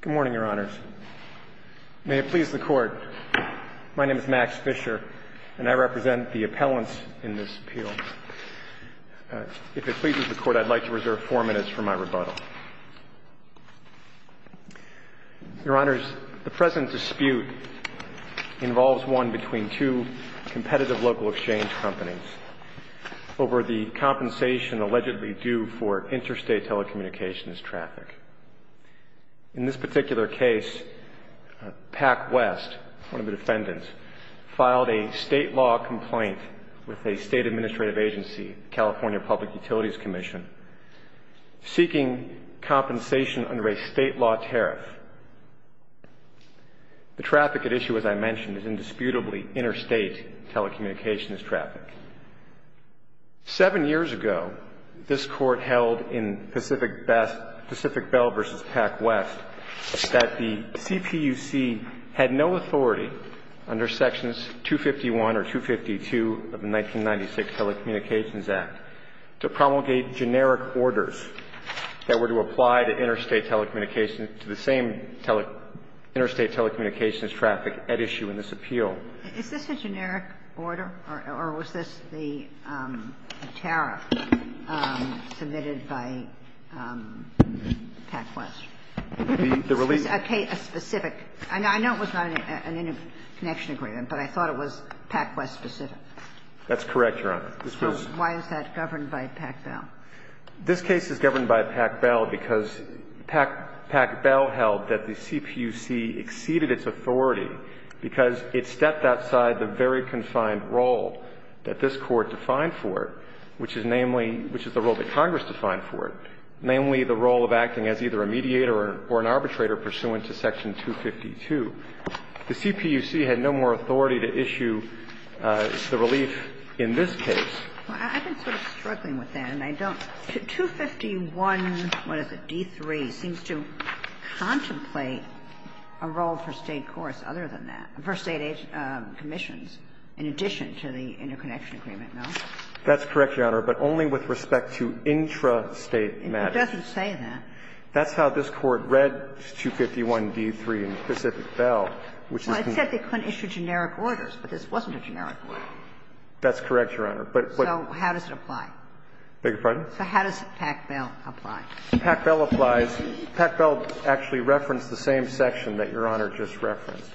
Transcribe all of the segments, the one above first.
Good morning, Your Honors. May it please the Court, my name is Max Fischer, and I represent the appellants in this appeal. If it pleases the Court, I'd like to reserve four minutes for my rebuttal. Your Honors, the present dispute involves one between two competitive local exchange companies over the compensation allegedly due for interstate telecommunications traffic. In this particular case, Pac-West, one of the defendants, filed a state law complaint with a state administrative agency, California Public Utilities Commission, seeking compensation under a state law tariff. The traffic at issue, as I mentioned, is indisputably interstate telecommunications traffic. Seven years ago, this Court held in Pacific Bell v. Pac-West that the CPUC had no authority under Sections 251 or 252 of the 1996 Telecommunications Act to promulgate generic orders that were to apply to interstate telecommunications to the same interstate telecommunications traffic at issue in this appeal. Is this a generic order, or was this the tariff submitted by Pac-West? The release of a specific – I know it was not an interconnection agreement, but I thought it was Pac-West specific. That's correct, Your Honor. Why is that governed by Pac-Bell? This case is governed by Pac-Bell because Pac-Bell held that the CPUC exceeded its authority because it stepped outside the very confined role that this Court defined for it, which is namely – which is the role that Congress defined for it, namely the role of acting as either a mediator or an arbitrator pursuant to Section 252. The CPUC had no more authority to issue the relief in this case. Well, I've been sort of struggling with that, and I don't – 251, what is it, D3, seems to contemplate a role for State courts other than that – for State commissions in addition to the interconnection agreement, no? That's correct, Your Honor, but only with respect to intrastate matters. It doesn't say that. That's how this Court read 251, D3, and Pacific Bell, which is the – Well, it said they couldn't issue generic orders, but this wasn't a generic order. That's correct, Your Honor, but – but – So how does it apply? Beg your pardon? So how does Pac-Bell apply? Pac-Bell applies – Pac-Bell actually referenced the same section that Your Honor just referenced,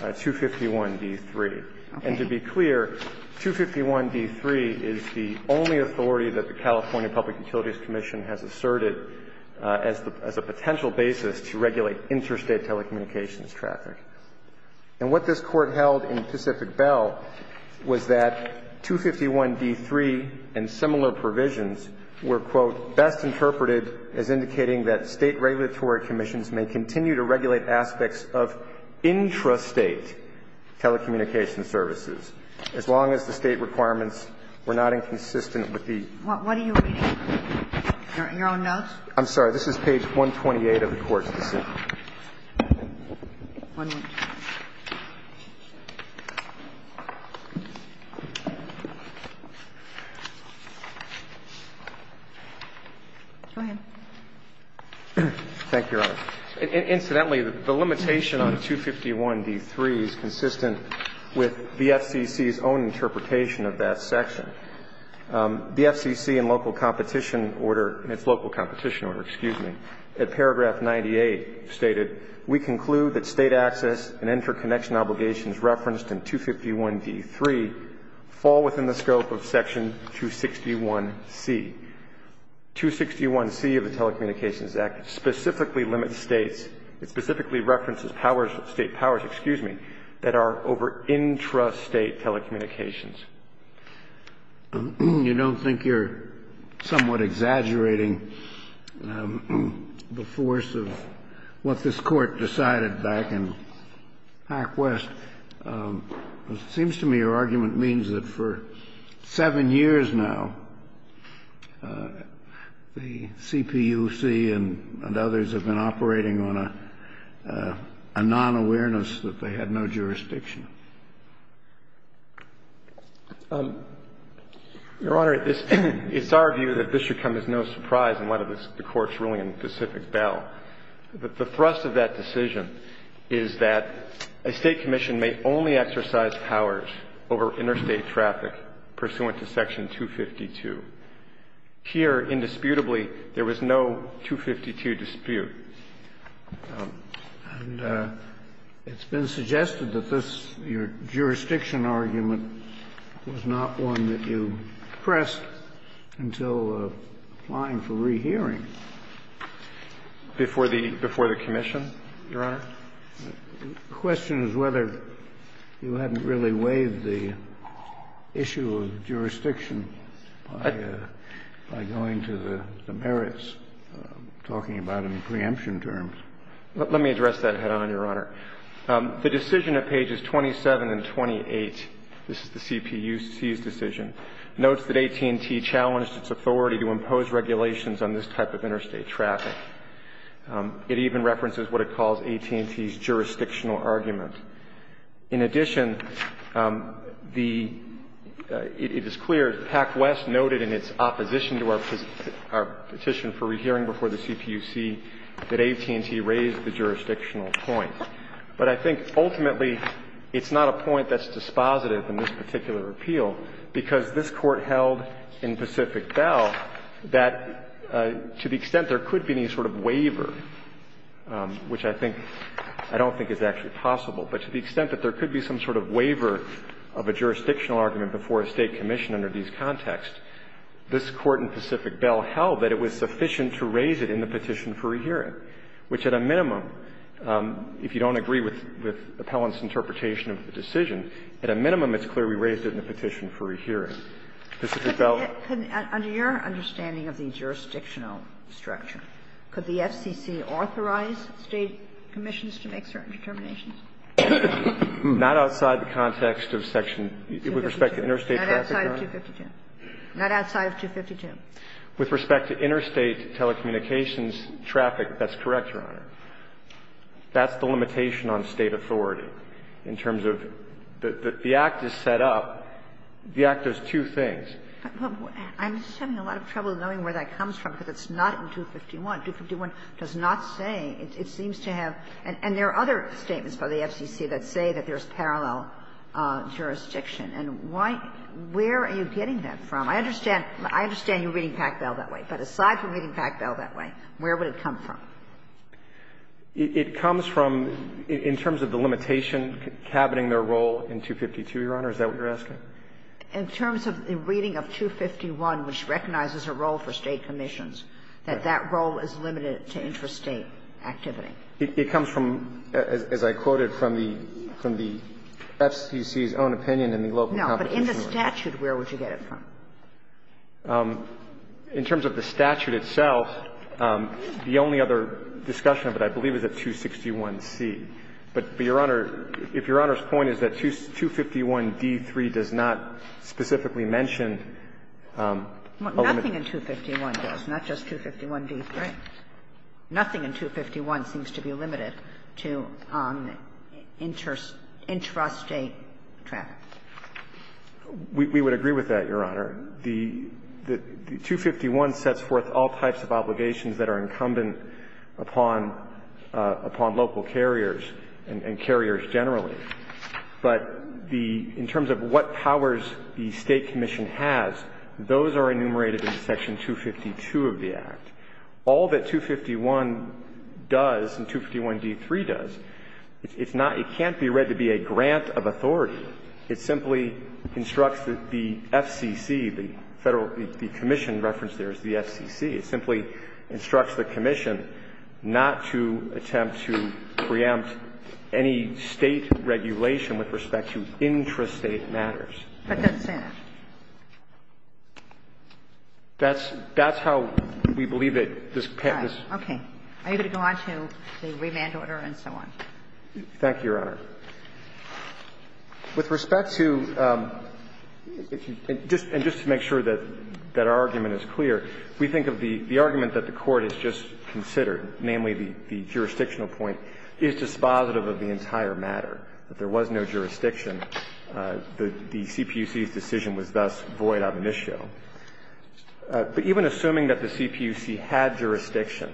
251, D3. And to be clear, 251, D3 is the only authority that the California Public Utilities Commission has asserted as the – as a potential basis to regulate intrastate telecommunications traffic. And what this Court held in Pacific Bell was that 251, D3 and similar provisions were, quote, best interpreted as indicating that State regulatory commissions may continue to regulate aspects of intrastate telecommunications services as long as the State requirements were not inconsistent with the – What are you reading? Your own notes? I'm sorry. This is page 128 of the Court's decision. Thank you, Your Honor. Incidentally, the limitation on 251, D3 is consistent with the FCC's own interpretation of that section. The FCC in local competition order – in its local competition order, excuse me – at paragraph 98 states that we conclude that State access and interconnection obligations referenced in 251, D3 fall within the scope of section 261C. 261C of the Telecommunications Act specifically limits States – it specifically references powers – State powers, excuse me – that are over intrastate telecommunications. You don't think you're somewhat exaggerating the force of what this Court decided back in Hack West? It seems to me your argument means that for seven years now, the CPUC and others have been operating on a non-awareness that they had no jurisdiction. Your Honor, it's our view that this should come as no surprise in light of the Court's ruling in the Pacific Bell. The thrust of that decision is that a State commission may only exercise powers over interstate traffic pursuant to section 252. Here, indisputably, there was no 252 dispute. And it's been suggested that this – your jurisdiction argument was not one that you pressed until applying for rehearing. Before the commission, Your Honor? The question is whether you hadn't really waived the issue of jurisdiction by going to the merits, talking about any preemption terms. Let me address that head-on, Your Honor. The decision at pages 27 and 28 – this is the CPUC's decision – notes that AT&T challenged its authority to impose regulations on this type of interstate traffic. It even references what it calls AT&T's jurisdictional argument. In addition, the – it is clear, PAC-West noted in its opposition to our petition for rehearing before the CPUC that AT&T raised the jurisdictional point. But I think, ultimately, it's not a point that's dispositive in this particular appeal, because this Court held in Pacific Bell that, to the extent there could be any sort of waiver, which I think – I don't think is actually possible, but to the extent that there could be some sort of waiver of a jurisdictional argument before a State commission under these contexts, this Court in Pacific Bell held that it was sufficient to raise it in the petition for rehearing, which at a minimum, if you don't agree with Appellant's interpretation of the decision, at a minimum, it's clear we raised it in the petition for rehearing. Pacific Bell – Under your understanding of the jurisdictional structure, could the FCC authorize State commissions to make certain determinations? Not outside the context of section – with respect to interstate traffic, Your Honor. Not outside of 252. With respect to interstate telecommunications traffic, that's correct, Your Honor. That's the limitation on State authority in terms of the act is set up, the act does two things. I'm having a lot of trouble knowing where that comes from, because it's not in 251. 251 does not say. It seems to have – and there are other statements by the FCC that say that there is parallel jurisdiction. And why – where are you getting that from? I understand – I understand you're reading Packbell that way. But aside from reading Packbell that way, where would it come from? It comes from – in terms of the limitation cabining their role in 252, Your Honor, is that what you're asking? In terms of the reading of 251, which recognizes a role for State commissions, that that role is limited to interstate activity. It comes from, as I quoted, from the FCC's own opinion in the local competition report. No. But in the statute, where would you get it from? In terms of the statute itself, the only other discussion of it, I believe, is at 261C. But, Your Honor, if Your Honor's point is that 251d3 does not specifically mention a limitation – Nothing in 251 does, not just 251d3. Nothing in 251 seems to be limited to interstate traffic. We would agree with that, Your Honor. The 251 sets forth all types of obligations that are incumbent upon local carriers and carriers generally. But the – in terms of what powers the State commission has, those are enumerated in Section 252 of the Act. All that 251 does and 251d3 does, it's not – it can't be read to be a grant of authority. It simply instructs the FCC, the Federal – the commission referenced there is the FCC. It simply instructs the commission not to attempt to preempt any State regulation with respect to intrastate matters. But that's Senate. That's – that's how we believe it. All right. Okay. Are you going to go on to the remand order and so on? Thank you, Your Honor. With respect to – and just to make sure that our argument is clear, we think of the argument that the Court has just considered, namely the jurisdictional point, is dispositive of the entire matter, that there was no jurisdiction. The CPUC's decision was thus void of an issue. But even assuming that the CPUC had jurisdiction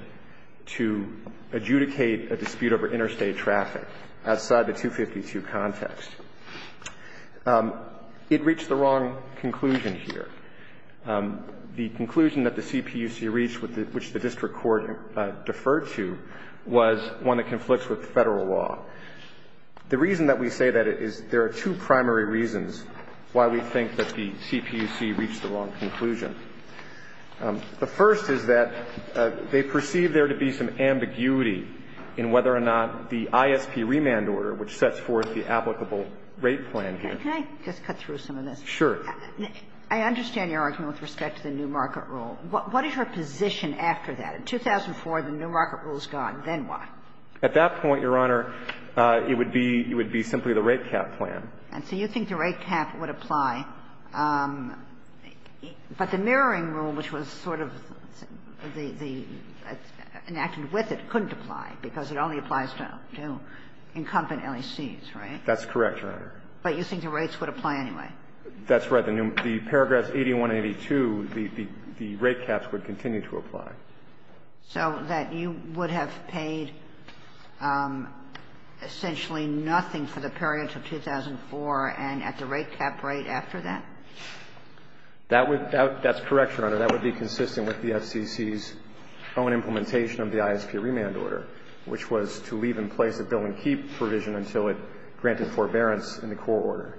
to adjudicate a dispute over interstate traffic outside the 252 context, it reached the wrong conclusion here. The conclusion that the CPUC reached, which the district court deferred to, was one that conflicts with Federal law. The reason that we say that is there are two primary reasons why we think that the CPUC reached the wrong conclusion. The first is that they perceive there to be some ambiguity in whether or not the ISP remand order, which sets forth the applicable rate plan here. Can I just cut through some of this? Sure. I understand your argument with respect to the new market rule. What is your position after that? In 2004, the new market rule is gone. Then what? At that point, Your Honor, it would be – it would be simply the rate cap plan. And so you think the rate cap would apply. But the mirroring rule, which was sort of the – enacted with it, couldn't apply, because it only applies to incumbent LECs, right? That's correct, Your Honor. But you think the rates would apply anyway? That's right. So that you would have paid essentially nothing for the period until 2004 and at the rate cap rate after that? That would – that's correct, Your Honor. That would be consistent with the FCC's own implementation of the ISP remand order, which was to leave in place a bill and keep provision until it granted forbearance in the core order.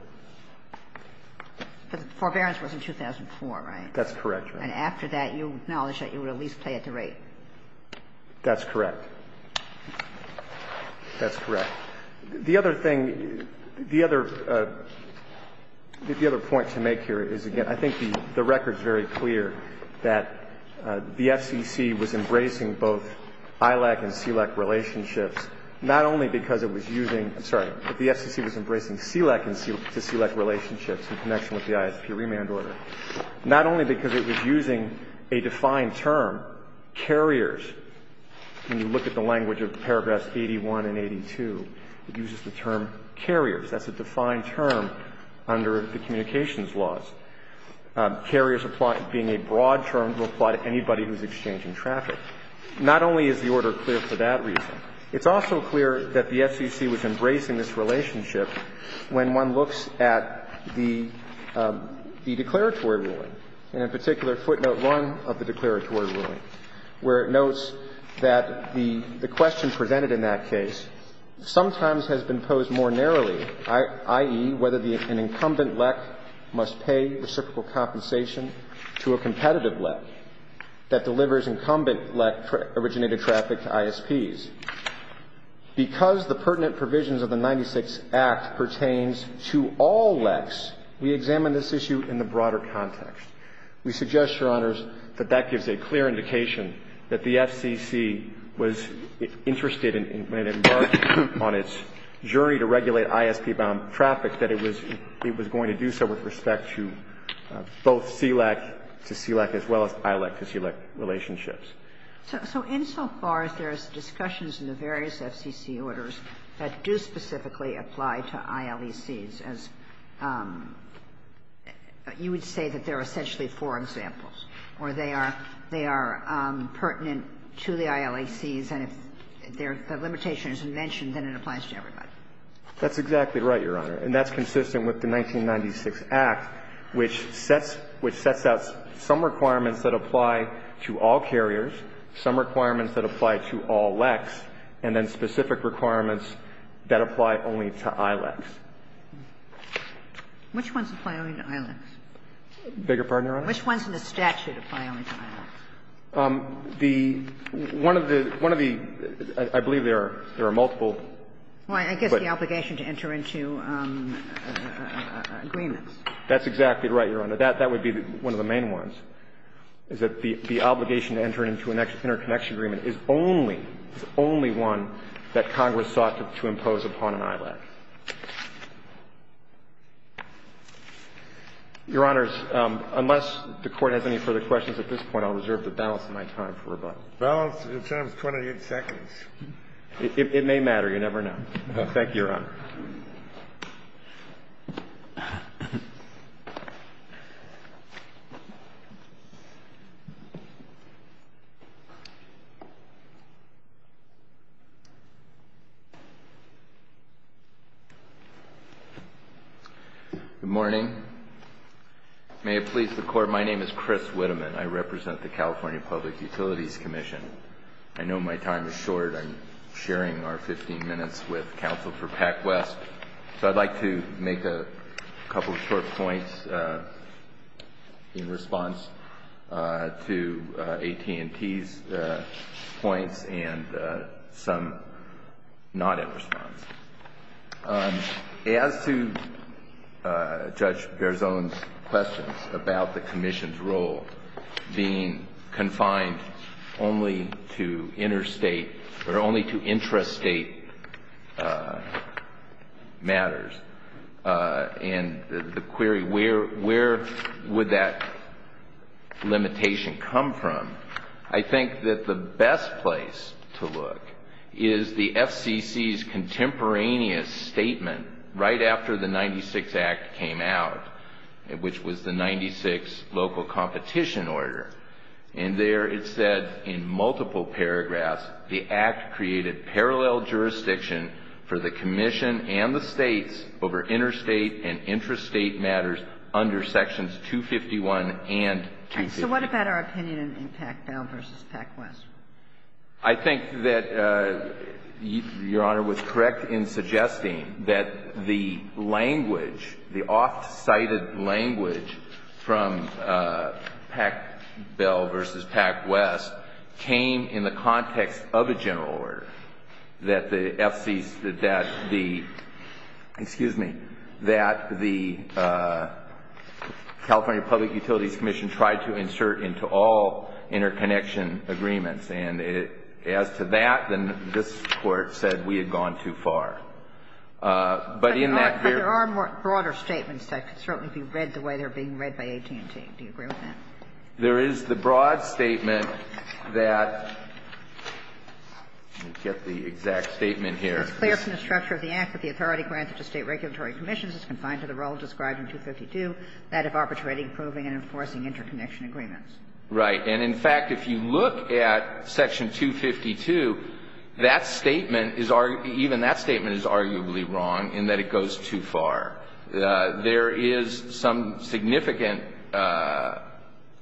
But the forbearance was in 2004, right? That's correct, Your Honor. And after that, you acknowledge that you would at least pay at the rate. That's correct. That's correct. The other thing – the other – the other point to make here is, again, I think the record's very clear that the FCC was embracing both ILAC and CLEC relationships not only because it was using – I'm sorry. The FCC was embracing CLEC and CLEC relationships in connection with the ISP remand order. Not only because it was using a defined term, carriers. When you look at the language of paragraphs 81 and 82, it uses the term carriers. That's a defined term under the communications laws. Carriers being a broad term to apply to anybody who's exchanging traffic. Not only is the order clear for that reason, it's also clear that the FCC was embracing this relationship when one looks at the declaratory ruling, and in particular footnote 1 of the declaratory ruling, where it notes that the question presented in that case sometimes has been posed more narrowly, i.e., whether an incumbent LEC must pay reciprocal compensation to a competitive LEC that delivers incumbent LEC-originated traffic to ISPs. Because the pertinent provisions of the 96 Act pertains to all LECs, we examine this issue in the broader context. We suggest, Your Honors, that that gives a clear indication that the FCC was interested in embarking on its journey to regulate ISP-bound traffic, that it was going to do so with respect to both CLEC to CLEC as well as ILAC to CLEC relationships. So insofar as there's discussions in the various FCC orders that do specifically apply to ILECs as you would say that they're essentially four examples, or they are pertinent to the ILECs, and if the limitation is mentioned, then it applies to everybody. That's exactly right, Your Honor. And that's consistent with the 1996 Act, which sets out some requirements that apply to all carriers, some requirements that apply to all LECs, and then specific requirements that apply only to ILECs. Which ones apply only to ILECs? I beg your pardon, Your Honor? Which ones in the statute apply only to ILECs? The one of the one of the I believe there are there are multiple. Well, I guess the obligation to enter into agreements. That's exactly right, Your Honor. That would be one of the main ones. Is that the obligation to enter into an interconnection agreement is only, is only one that Congress sought to impose upon an ILEC. Your Honors, unless the Court has any further questions at this point, I'll reserve the balance of my time for rebuttal. The balance of your time is 28 seconds. It may matter. You never know. Thank you, Your Honor. Good morning. May it please the Court, my name is Chris Witteman. I represent the California Public Utilities Commission. I know my time is short. I'm sharing our 15 minutes with Counsel for PAC West. So I'd like to make a couple of short points in response to AT&T's points and some not in response. As to Judge Berzon's questions about the Commission's role being confined only to interstate or only to intrastate matters and the query where would that limitation come from, I think that the best place to look is the FCC's contemporaneous statement right after the 96 Act came out, which was the 96 local competition order. And there it said in multiple paragraphs, the Act created parallel jurisdiction for the Commission and the States over interstate and intrastate matters under Sections 251 and 252. So what about our opinion in PAC Bell v. PAC West? I think that Your Honor was correct in suggesting that the language, the off-cited language from PAC Bell v. PAC West came in the context of a general order that the FCC's that the, excuse me, that the California Public Utilities Commission tried to insert into all interconnection agreements. And as to that, then this Court said we had gone too far. But in that year But there are broader statements that could certainly be read the way they're being read by AT&T. Do you agree with that? There is the broad statement that, let me get the exact statement here. It's clear from the structure of the Act that the authority granted to State regulatory commissions is confined to the role described in 252, that of arbitrating, approving, and enforcing interconnection agreements. Right. And in fact, if you look at Section 252, that statement is, even that statement is arguably wrong in that it goes too far. There is some significant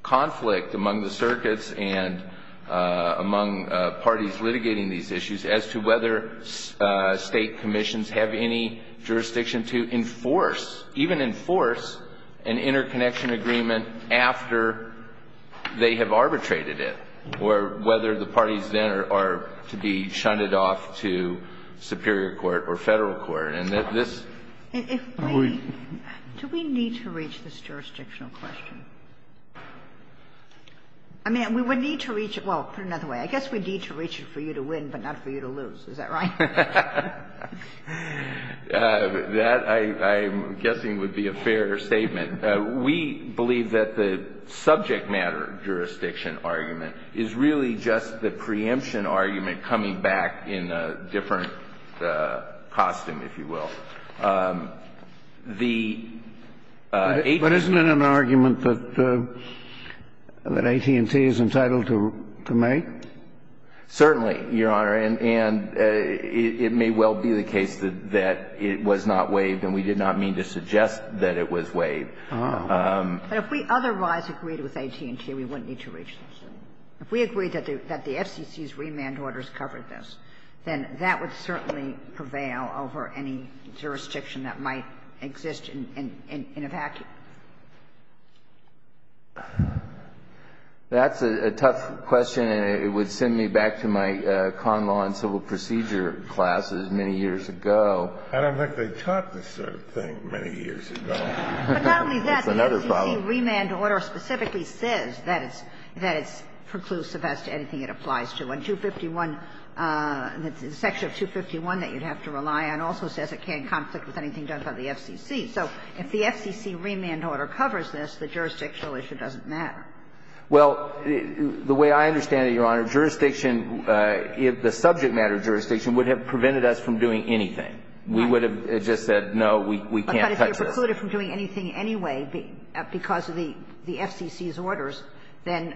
conflict among the circuits and among parties litigating these issues as to whether State commissions have any jurisdiction to enforce, even enforce, an interconnection agreement after they have arbitrated it. Or whether the parties then are to be shunted off to superior court or Federal court. And this Do we need to reach this jurisdictional question? I mean, we would need to reach it. Well, put it another way. I guess we'd need to reach it for you to win, but not for you to lose. Is that right? That, I'm guessing, would be a fair statement. We believe that the subject matter jurisdiction argument is really just the preemption argument coming back in a different costume, if you will. The AT&T But isn't it an argument that AT&T is entitled to make? Certainly, Your Honor. And it may well be the case that it was not waived, and we did not mean to suggest that it was waived. But if we otherwise agreed with AT&T, we wouldn't need to reach this. If we agreed that the FCC's remand orders covered this, then that would certainly prevail over any jurisdiction that might exist in a vacuum. That's a tough question, and it would send me back to my con law and civil procedure classes many years ago. I don't think they taught this sort of thing many years ago. But not only that, the FCC remand order specifically says that it's preclusive as to anything it applies to. And 251, the section of 251 that you'd have to rely on also says it can't conflict with anything done by the FCC. So if the FCC remand order covers this, the jurisdictional issue doesn't matter. Well, the way I understand it, Your Honor, jurisdiction, the subject matter of jurisdiction would have prevented us from doing anything. We would have just said, no, we can't touch this. But if you're precluded from doing anything anyway because of the FCC's orders, then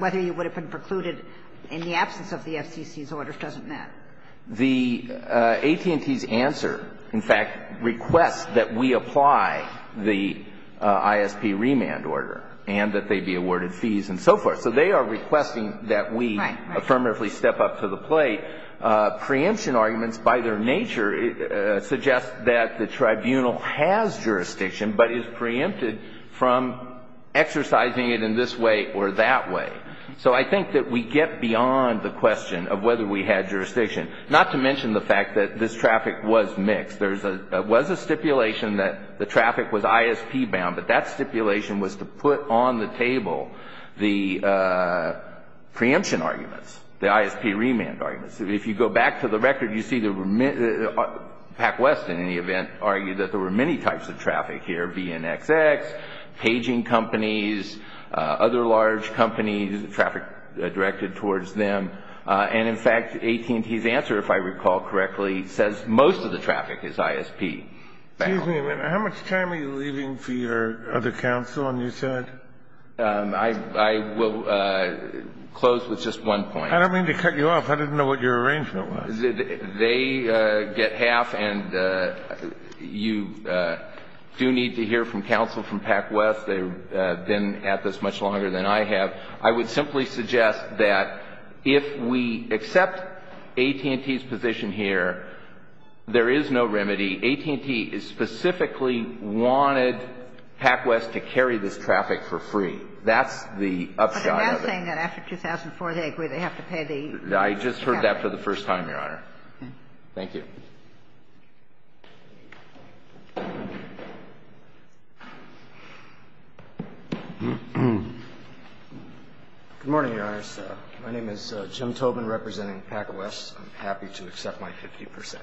whether you would have been precluded in the absence of the FCC's orders doesn't matter. The AT&T's answer, in fact, requests that we apply the ISP remand order and that they be awarded fees and so forth. So they are requesting that we affirmatively step up to the plate. Preemption arguments, by their nature, suggest that the tribunal has jurisdiction but is preempted from exercising it in this way or that way. So I think that we get beyond the question of whether we had jurisdiction, not to mention the fact that this traffic was mixed. There was a stipulation that the traffic was ISP bound, but that stipulation was to put on the table the preemption arguments, the ISP remand arguments. If you go back to the record, you see that PacWest, in any event, argued that there were many types of traffic here, BNXX, paging companies, other large companies, traffic directed towards them. And, in fact, AT&T's answer, if I recall correctly, says most of the traffic is ISP bound. Excuse me a minute. How much time are you leaving for your other counsel on your side? I will close with just one point. I don't mean to cut you off. I didn't know what your arrangement was. They get half, and you do need to hear from counsel from PacWest. They've been at this much longer than I have. I would simply suggest that if we accept AT&T's position here, there is no remedy. AT&T specifically wanted PacWest to carry this traffic for free. That's the upside of it. But they're not saying that after 2004 they agree they have to pay the traffic. I just heard that for the first time, Your Honor. Thank you. Good morning, Your Honor. My name is Jim Tobin, representing PacWest. I'm happy to accept my 50%.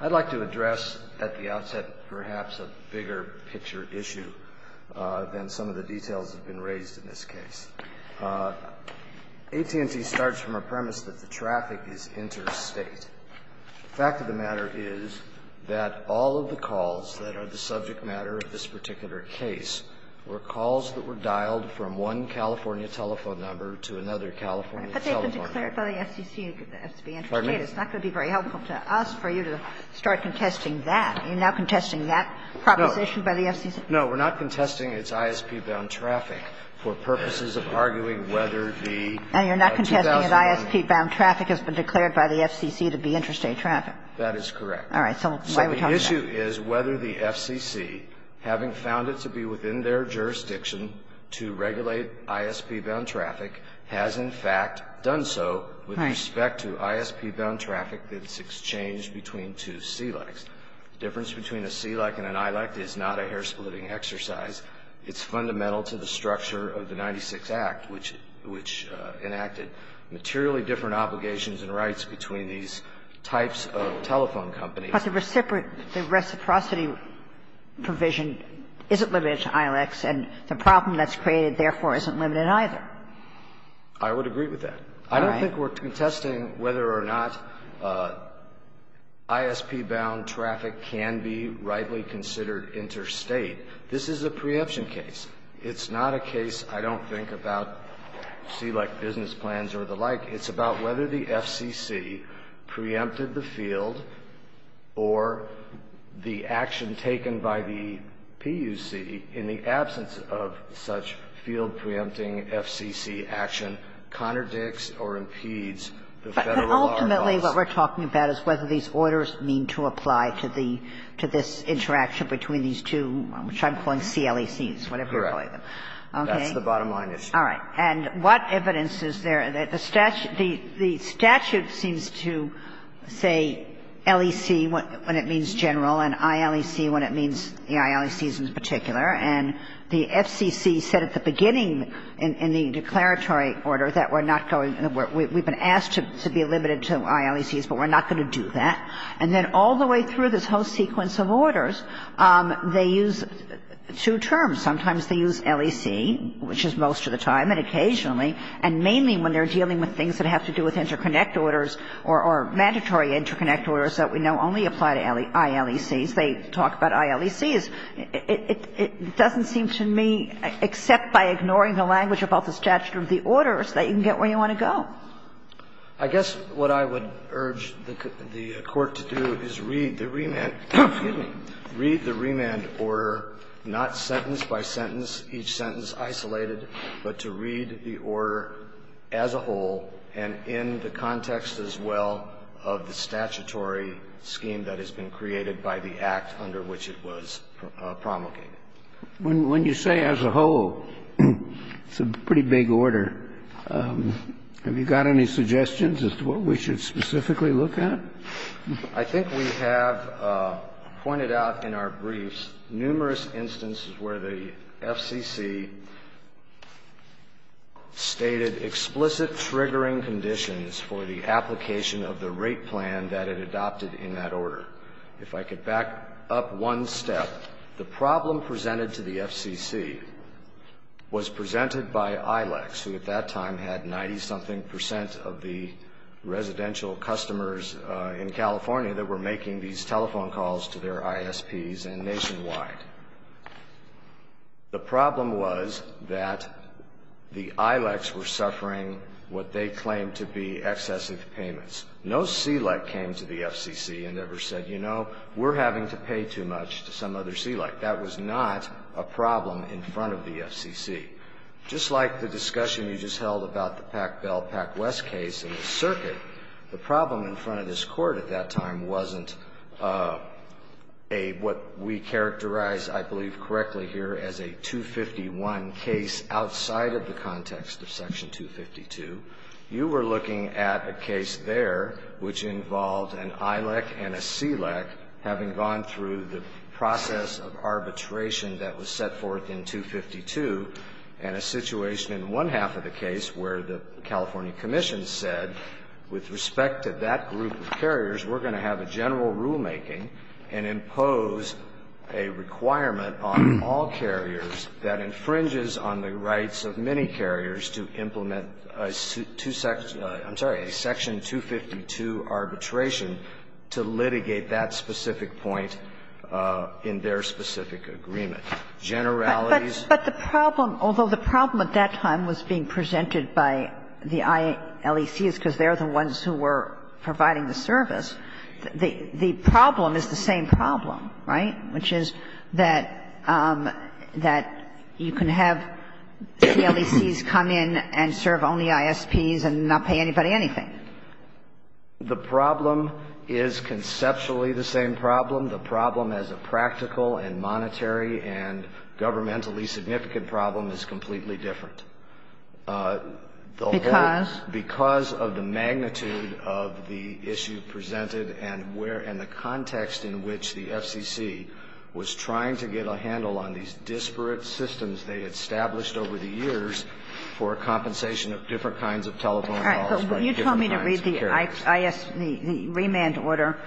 I'd like to address, at the outset, perhaps a bigger picture issue than some of the details that have been raised in this case. AT&T starts from a premise that the traffic is interstate. The fact of the matter is that all of the calls that are the subject matter of this particular case were calls that were dialed from one California telephone number to another California telephone number. Pardon me? It's not going to be very helpful to us for you to start contesting that. Are you now contesting that proposition by the FCC? No. We're not contesting its ISP-bound traffic for purposes of arguing whether the 2001 ISP-bound traffic has been declared by the FCC to be interstate traffic? That is correct. All right. So why are we talking about it? So the issue is whether the FCC, having found it to be within their jurisdiction to regulate ISP-bound traffic, has in fact done so with respect to ISP-bound traffic that's exchanged between two CLECs. The difference between a CLEC and an ILEC is not a hair-splitting exercise. It's fundamental to the structure of the 96 Act, which enacted materially different obligations and rights between these types of telephone companies. But the reciprocity provision isn't limited to ILECs, and the problem that's created, therefore, isn't limited either. I would agree with that. All right. I don't think we're contesting whether or not ISP-bound traffic can be rightly considered interstate. This is a preemption case. It's not a case, I don't think, about CLEC business plans or the like. It's about whether the FCC preempted the field or the action taken by the PUC in the absence of such field-preempting FCC action contradicts or impedes the Federal law. But ultimately, what we're talking about is whether these orders mean to apply to this interaction between these two, which I'm calling CLECs, whatever you're calling them. Okay? That's the bottom line issue. All right. And what evidence is there? The statute seems to say LEC when it means general and ILEC when it means the ILECs in particular, and the FCC said at the beginning in the declaratory order that we're not going to be we've been asked to be limited to ILECs, but we're not going to do that. And then all the way through this whole sequence of orders, they use two terms. Sometimes they use LEC, which is most of the time, and occasionally, and mainly when they're dealing with things that have to do with interconnect orders or mandatory interconnect orders that we know only apply to ILECs, they talk about ILECs. It doesn't seem to me, except by ignoring the language about the statute of the orders, that you can get where you want to go. I guess what I would urge the Court to do is read the remand order not sentence by sentence, each sentence isolated, but to read the order as a whole and in the context as well of the statutory scheme that has been created by the act under which it was promulgated. When you say as a whole, it's a pretty big order. Have you got any suggestions as to what we should specifically look at? I think we have pointed out in our briefs numerous instances where the FCC stated explicit triggering conditions for the application of the rate plan that it adopted in that order. If I could back up one step, the problem presented to the FCC was presented by ILECs, who at that time had 90-something percent of the residential customers in California that were making these telephone calls to their ISPs and nationwide. The problem was that the ILECs were suffering what they claimed to be excessive payments. No CLEC came to the FCC and ever said, you know, we're having to pay too much to some other CLEC. That was not a problem in front of the FCC. Just like the discussion you just held about the Pac-Bell-Pac-West case in the circuit, the problem in front of this Court at that time wasn't a, what we characterize, I believe correctly here, as a 251 case outside of the context of Section 252. You were looking at a case there which involved an ILEC and a CLEC having gone through the process of arbitration that was set forth in 252 and a situation in one half of the case where the California Commission said, with respect to that group of carriers, we're going to have a general rulemaking and impose a requirement on all carriers that infringes on the rights of many carriers to implement a section 252 arbitration to litigate that specific point in their specific agreement. Generalities. But the problem, although the problem at that time was being presented by the ILECs because they're the ones who were providing the service, the problem is the same problem, right, which is that you can have CLECs come in and serve only ISPs and not pay anybody anything. The problem is conceptually the same problem. The problem as a practical and monetary and governmentally significant problem is completely different. Because? Because of the magnitude of the issue presented and where, and the context in which the FCC was trying to get a handle on these disparate systems they established over the years for a compensation of different kinds of telephone calls by different kinds of carriers. All right. But you told me to read the remand order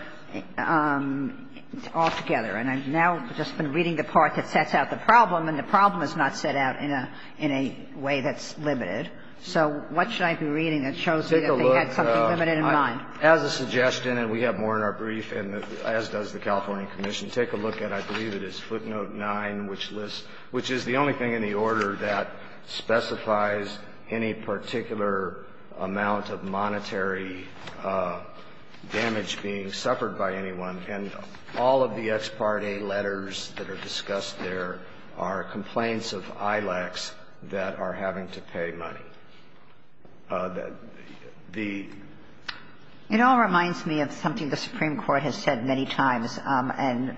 all together, and I've now just been reading the part that sets out the problem, and the problem is not set out in a way that's limited. So what should I be reading that shows me that they had something limited in mind? Take a look. As a suggestion, and we have more in our brief, and as does the California Commission, take a look at, I believe it is footnote 9, which lists, which is the only thing in the order that specifies any particular amount of monetary damage being suffered by anyone. And all of the ex parte letters that are discussed there are complaints of ILACs that are having to pay money. The... It all reminds me of something the Supreme Court has said many times. And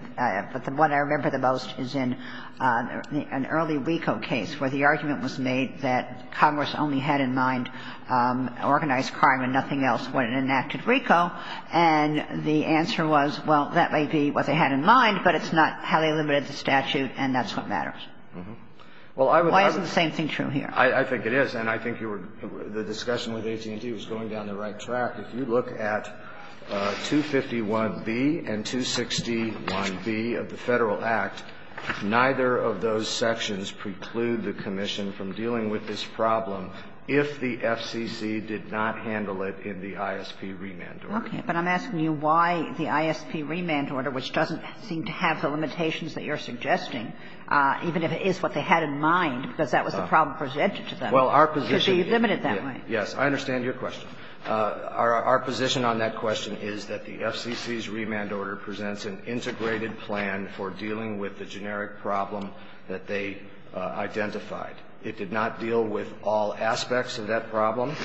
what I remember the most is in an early RICO case where the argument was made that Congress only had in mind organized crime and nothing else when it enacted RICO, and the answer was, well, that may be what they had in mind, but it's not highly limited to statute, and that's what matters. Why isn't the same thing true here? I think it is, and I think the discussion with AT&T was going down the right track. If you look at 251B and 261B of the Federal Act, neither of those sections preclude the Commission from dealing with this problem if the FCC did not handle it in the ISP remand order. Okay. But I'm asking you why the ISP remand order, which doesn't seem to have the limitations that you're suggesting, even if it is what they had in mind, because that was the problem presented to them, could be limited that way. Yes, I understand your question. Our position on that question is that the FCC's remand order presents an integrated plan for dealing with the generic problem that they identified. It did not deal with all aspects of that problem.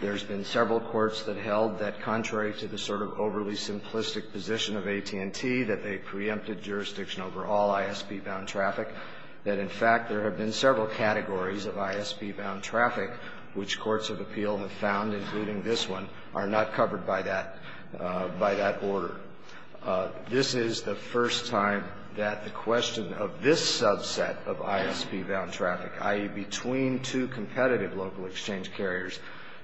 There's been several courts that held that contrary to the sort of overly simplistic position of AT&T, that they preempted jurisdiction over all ISP-bound traffic, that, in fact, there have been several categories of ISP-bound traffic which courts of appeal have found, including this one, are not covered by that order. This is the first time that the question of this subset of ISP-bound traffic, i.e., between two competitive local exchange carriers,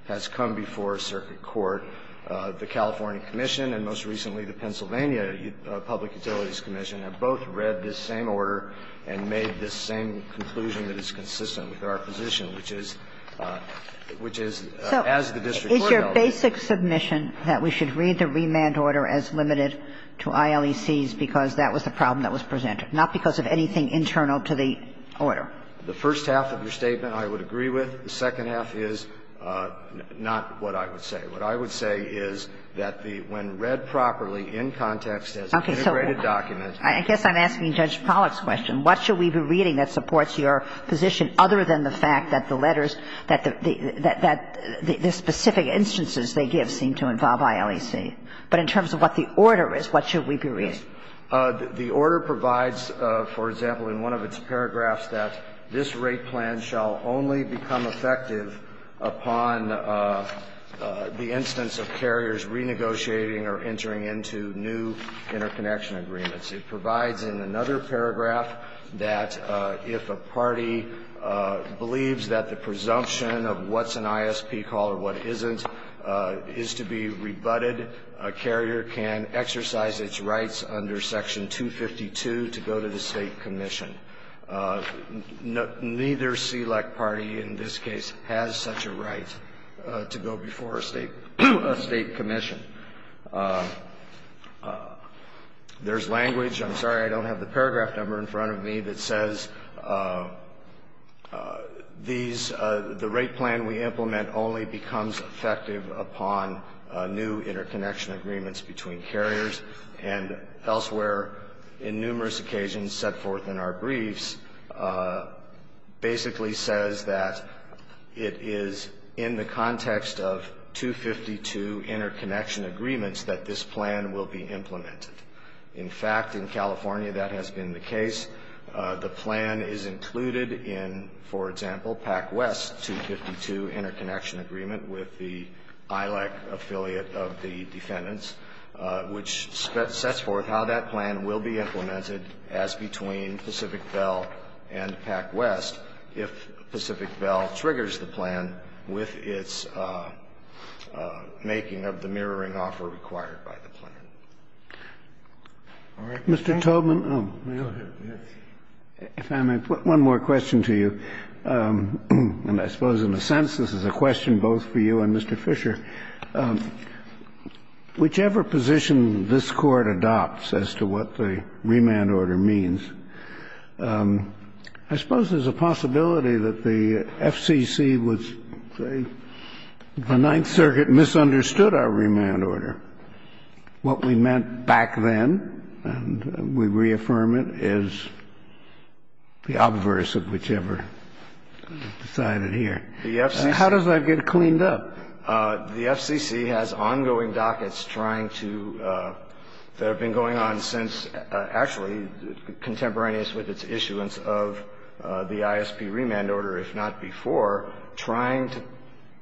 has come before circuit court. The California Commission and, most recently, the Pennsylvania Public Utilities Commission have both read this same order and made this same conclusion that is consistent with our position, which is, as the district court held it. So is your basic submission that we should read the remand order as limited to ILECs because that was the problem that was presented, not because of anything internal to the order? The first half of your statement I would agree with. The second half is not what I would say. What I would say is that the when read properly in context as an integrated document. I guess I'm asking Judge Pollack's question. What should we be reading that supports your position other than the fact that the letters, that the specific instances they give seem to involve ILEC? But in terms of what the order is, what should we be reading? The order provides, for example, in one of its paragraphs that this rate plan shall only become effective upon the instance of carriers renegotiating or entering into new interconnection agreements. It provides in another paragraph that if a party believes that the presumption of what's an ISP call or what isn't is to be rebutted, a carrier can exercise its rights under Section 252 to go to the State commission. Neither SELEC party in this case has such a right to go before a State commission. There's language, I'm sorry I don't have the paragraph number in front of me, that says these, the rate plan we implement only becomes effective upon new interconnection agreements between carriers and elsewhere in numerous occasions set forth in our briefs basically says that it is in the context of 252 interconnection agreements that this plan will be implemented. In fact, in California that has been the case. The plan is included in, for example, PacWest 252 interconnection agreement with the ILEC affiliate of the defendants, which sets forth how that plan will be implemented as between Pacific Bell and PacWest if Pacific Bell triggers the plan with its making of the mirroring offer required by the plan. Mr. Toedtman, if I may put one more question to you. And I suppose in a sense this is a question both for you and Mr. Fisher. Whichever position this Court adopts as to what the remand order means, I suppose there's a possibility that the FCC was, say, the Ninth Circuit misunderstood our remand order. What we meant back then, and we reaffirm it, is the obverse of whichever side it here. How does that get cleaned up? The FCC has ongoing dockets trying to, that have been going on since actually contemporaneous with its issuance of the ISP remand order, if not before, trying to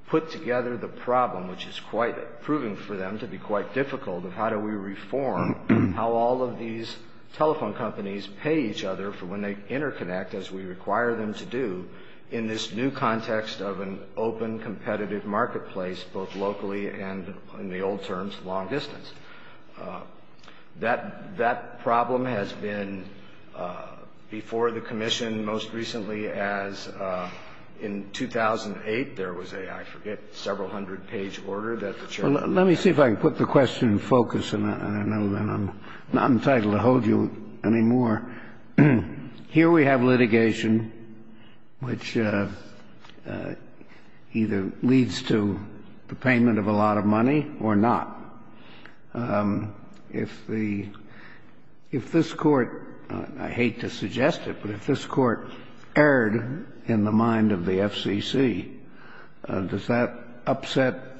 put together the problem, which is quite proving for them to be quite difficult, of how do we reform how all of these telephone companies pay each other for when they interconnect, as we require them to do, in this new context of an open, competitive marketplace, both locally and, in the old terms, long distance. That problem has been before the Commission most recently as in 2008 there was a, I forget, several hundred page order that the Chairman had. Let me see if I can put the question in focus, and I know that I'm not entitled to hold you any more. Here we have litigation which either leads to the payment of a lot of money or not. If the, if this Court, I hate to suggest it, but if this Court erred in the mind of the FCC, does that upset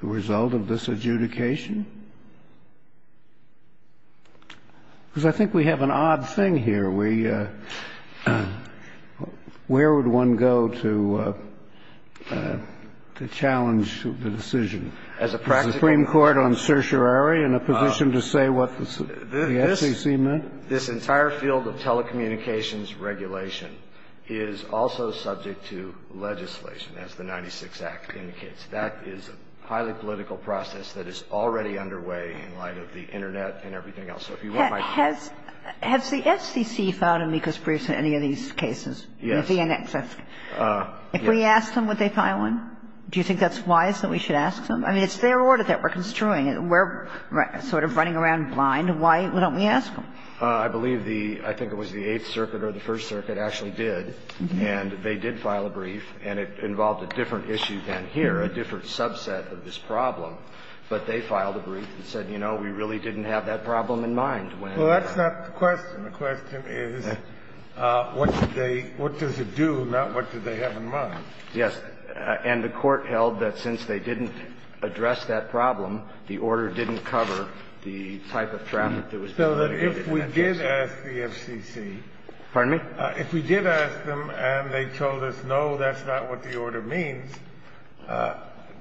the result of this adjudication? Because I think we have an odd thing here. We, where would one go to challenge the decision? The Supreme Court on certiorari in a position to say what the FCC meant? This entire field of telecommunications regulation is also subject to legislation, as the 96th Act indicates. That is a highly political process that is already underway in light of the Internet and everything else. So if you want my point. Has the FCC filed amicus briefs on any of these cases? Yes. With the NXS? If we asked them, would they file one? Do you think that's wise that we should ask them? I mean, it's their order that we're construing. We're sort of running around blind. Why don't we ask them? I believe the, I think it was the Eighth Circuit or the First Circuit actually did. And they did file a brief, and it involved a different issue than here, a different subset of this problem. But they filed a brief and said, you know, we really didn't have that problem in mind when. Well, that's not the question. The question is what did they, what does it do, not what did they have in mind? Yes. And the Court held that since they didn't address that problem, the order didn't cover the type of traffic that was being litigated in that case. So that if we did ask the FCC. Pardon me? If we did ask them and they told us, no, that's not what the order means,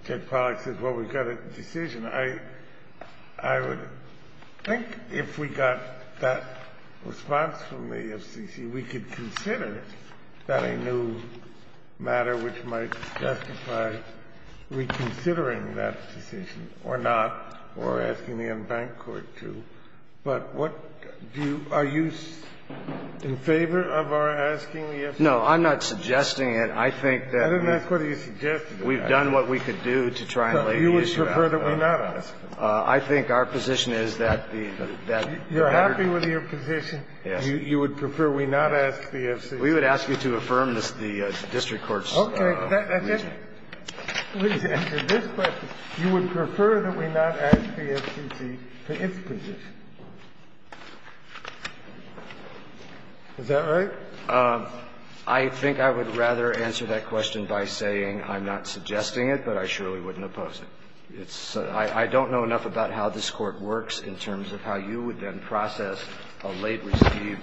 Ted Pollack says, well, we've got a decision, I would think if we got that response from the FCC, we could consider that a new matter which might testify reconsidering that decision or not, or asking the unbanked court to. But what do you, are you in favor of our asking the FCC? No, I'm not suggesting it. I think that we've. I didn't ask whether you suggested it. We've done what we could do to try and lay the issue out. But you would prefer that we not ask? I think our position is that the, that the matter. You're happy with your position? Yes. You would prefer we not ask the FCC? We would ask you to affirm the district court's reason. Okay. Please answer this question. You would prefer that we not ask the FCC for its position? Is that right? I think I would rather answer that question by saying I'm not suggesting it, but I surely wouldn't oppose it. It's so – I don't know enough about how this Court works in terms of how you would then process a late receipt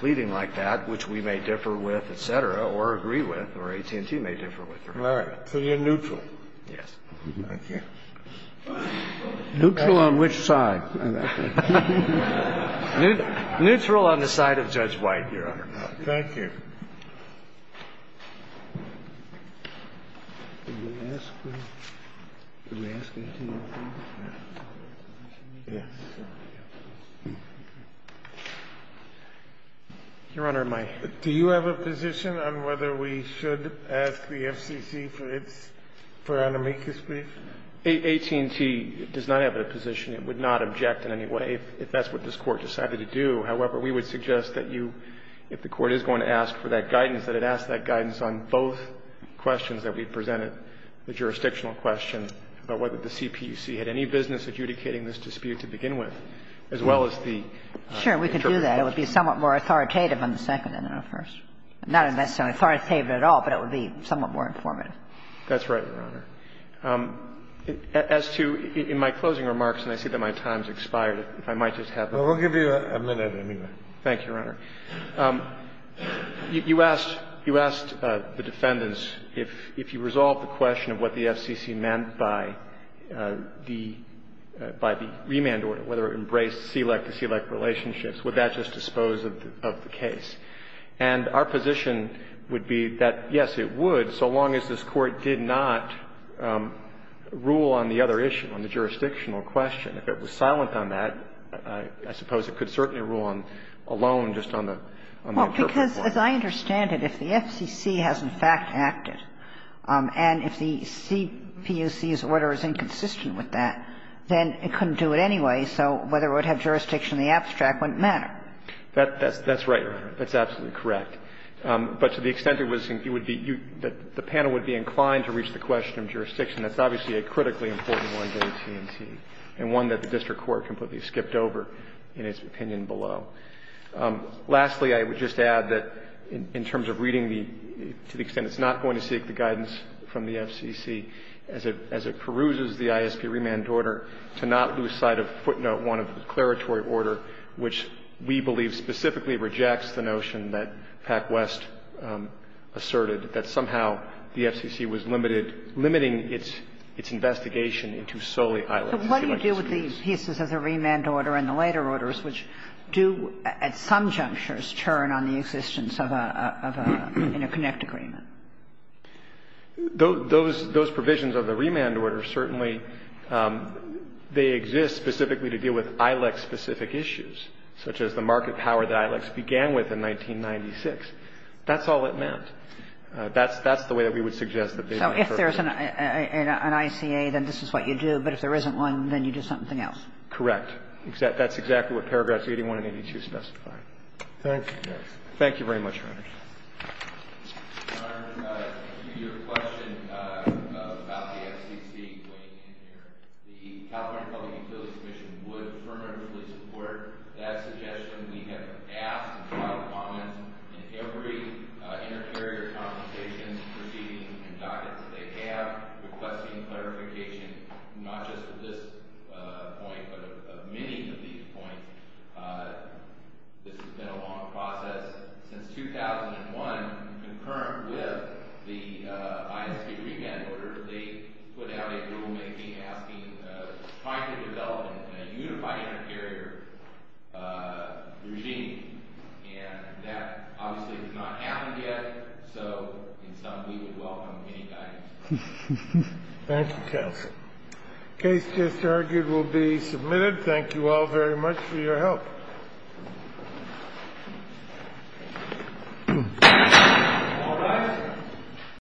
pleading like that, which we may differ with, et cetera, or agree with, or AT&T may differ with. All right. So you're neutral? Yes. Thank you. Neutral on which side? Neutral on the side of Judge White, Your Honor. Thank you. Do you have a position on whether we should ask the FCC for its – for Anamikis, please? AT&T does not have a position. It would not object in any way if that's what this Court decided to do. However, we would suggest that you, if the Court is going to ask for that guidance, that it ask that guidance on both questions that we presented, the jurisdictional question about whether the CPUC had any business adjudicating this dispute to begin with, as well as the interpretive questions. Sure, we could do that. It would be somewhat more authoritative on the second and not the first. Not necessarily authoritative at all, but it would be somewhat more informative. That's right, Your Honor. As to – in my closing remarks, and I see that my time has expired, if I might just have a moment. Well, we'll give you a minute anyway. Thank you, Your Honor. You asked – you asked the defendants if you resolved the question of what the FCC meant by the – by the remand order, whether it embraced SELEC-to-SELEC relationships. Would that just dispose of the case? And our position would be that, yes, it would, so long as this Court did not rule on the other issue, on the jurisdictional question. If it was silent on that, I suppose it could certainly rule on – alone just on the interpretive part. Well, because, as I understand it, if the FCC has in fact acted, and if the CPUC's order is inconsistent with that, then it couldn't do it anyway, so whether it would have jurisdiction in the abstract wouldn't matter. That's right, Your Honor. That's absolutely correct. But to the extent it was – you would be – the panel would be inclined to reach the question of jurisdiction. That's obviously a critically important one to AT&T and one that the district court completely skipped over in its opinion below. Lastly, I would just add that in terms of reading the – to the extent it's not going to seek the guidance from the FCC as it – as it peruses the ISP remand order to not lose sight of footnote 1 of the declaratory order, which we believe specifically rejects the notion that PacWest asserted, that somehow the FCC was limited – limiting its – its investigation into solely ILEX. So what do you do with the pieces of the remand order and the later orders, which do at some junctures turn on the existence of a – of a interconnect agreement? Those – those provisions of the remand order certainly – they exist specifically to deal with ILEX-specific issues, such as the market power that ILEX began with in 1996. That's all it meant. So if there's an – an ICA, then this is what you do. But if there isn't one, then you do something else. Correct. That's exactly what paragraphs 81 and 82 specify. Thank you very much, Your Honor. Your Honor, to your question about the FCC going in there, the California Public Utilities Commission would fervently support that suggestion. We have asked and filed comments in every inter-area conversations, proceedings, and documents that they have requesting clarification not just of this point but of many of these points. This has been a long process. Since 2001, concurrent with the ISP remand order, they put out a rulemaking asking – trying to develop a unified inter-area regime. And that obviously has not happened yet. So in sum, we would welcome any guidance. Thank you, counsel. The case just argued will be submitted. Thank you all very much for your help. All rise.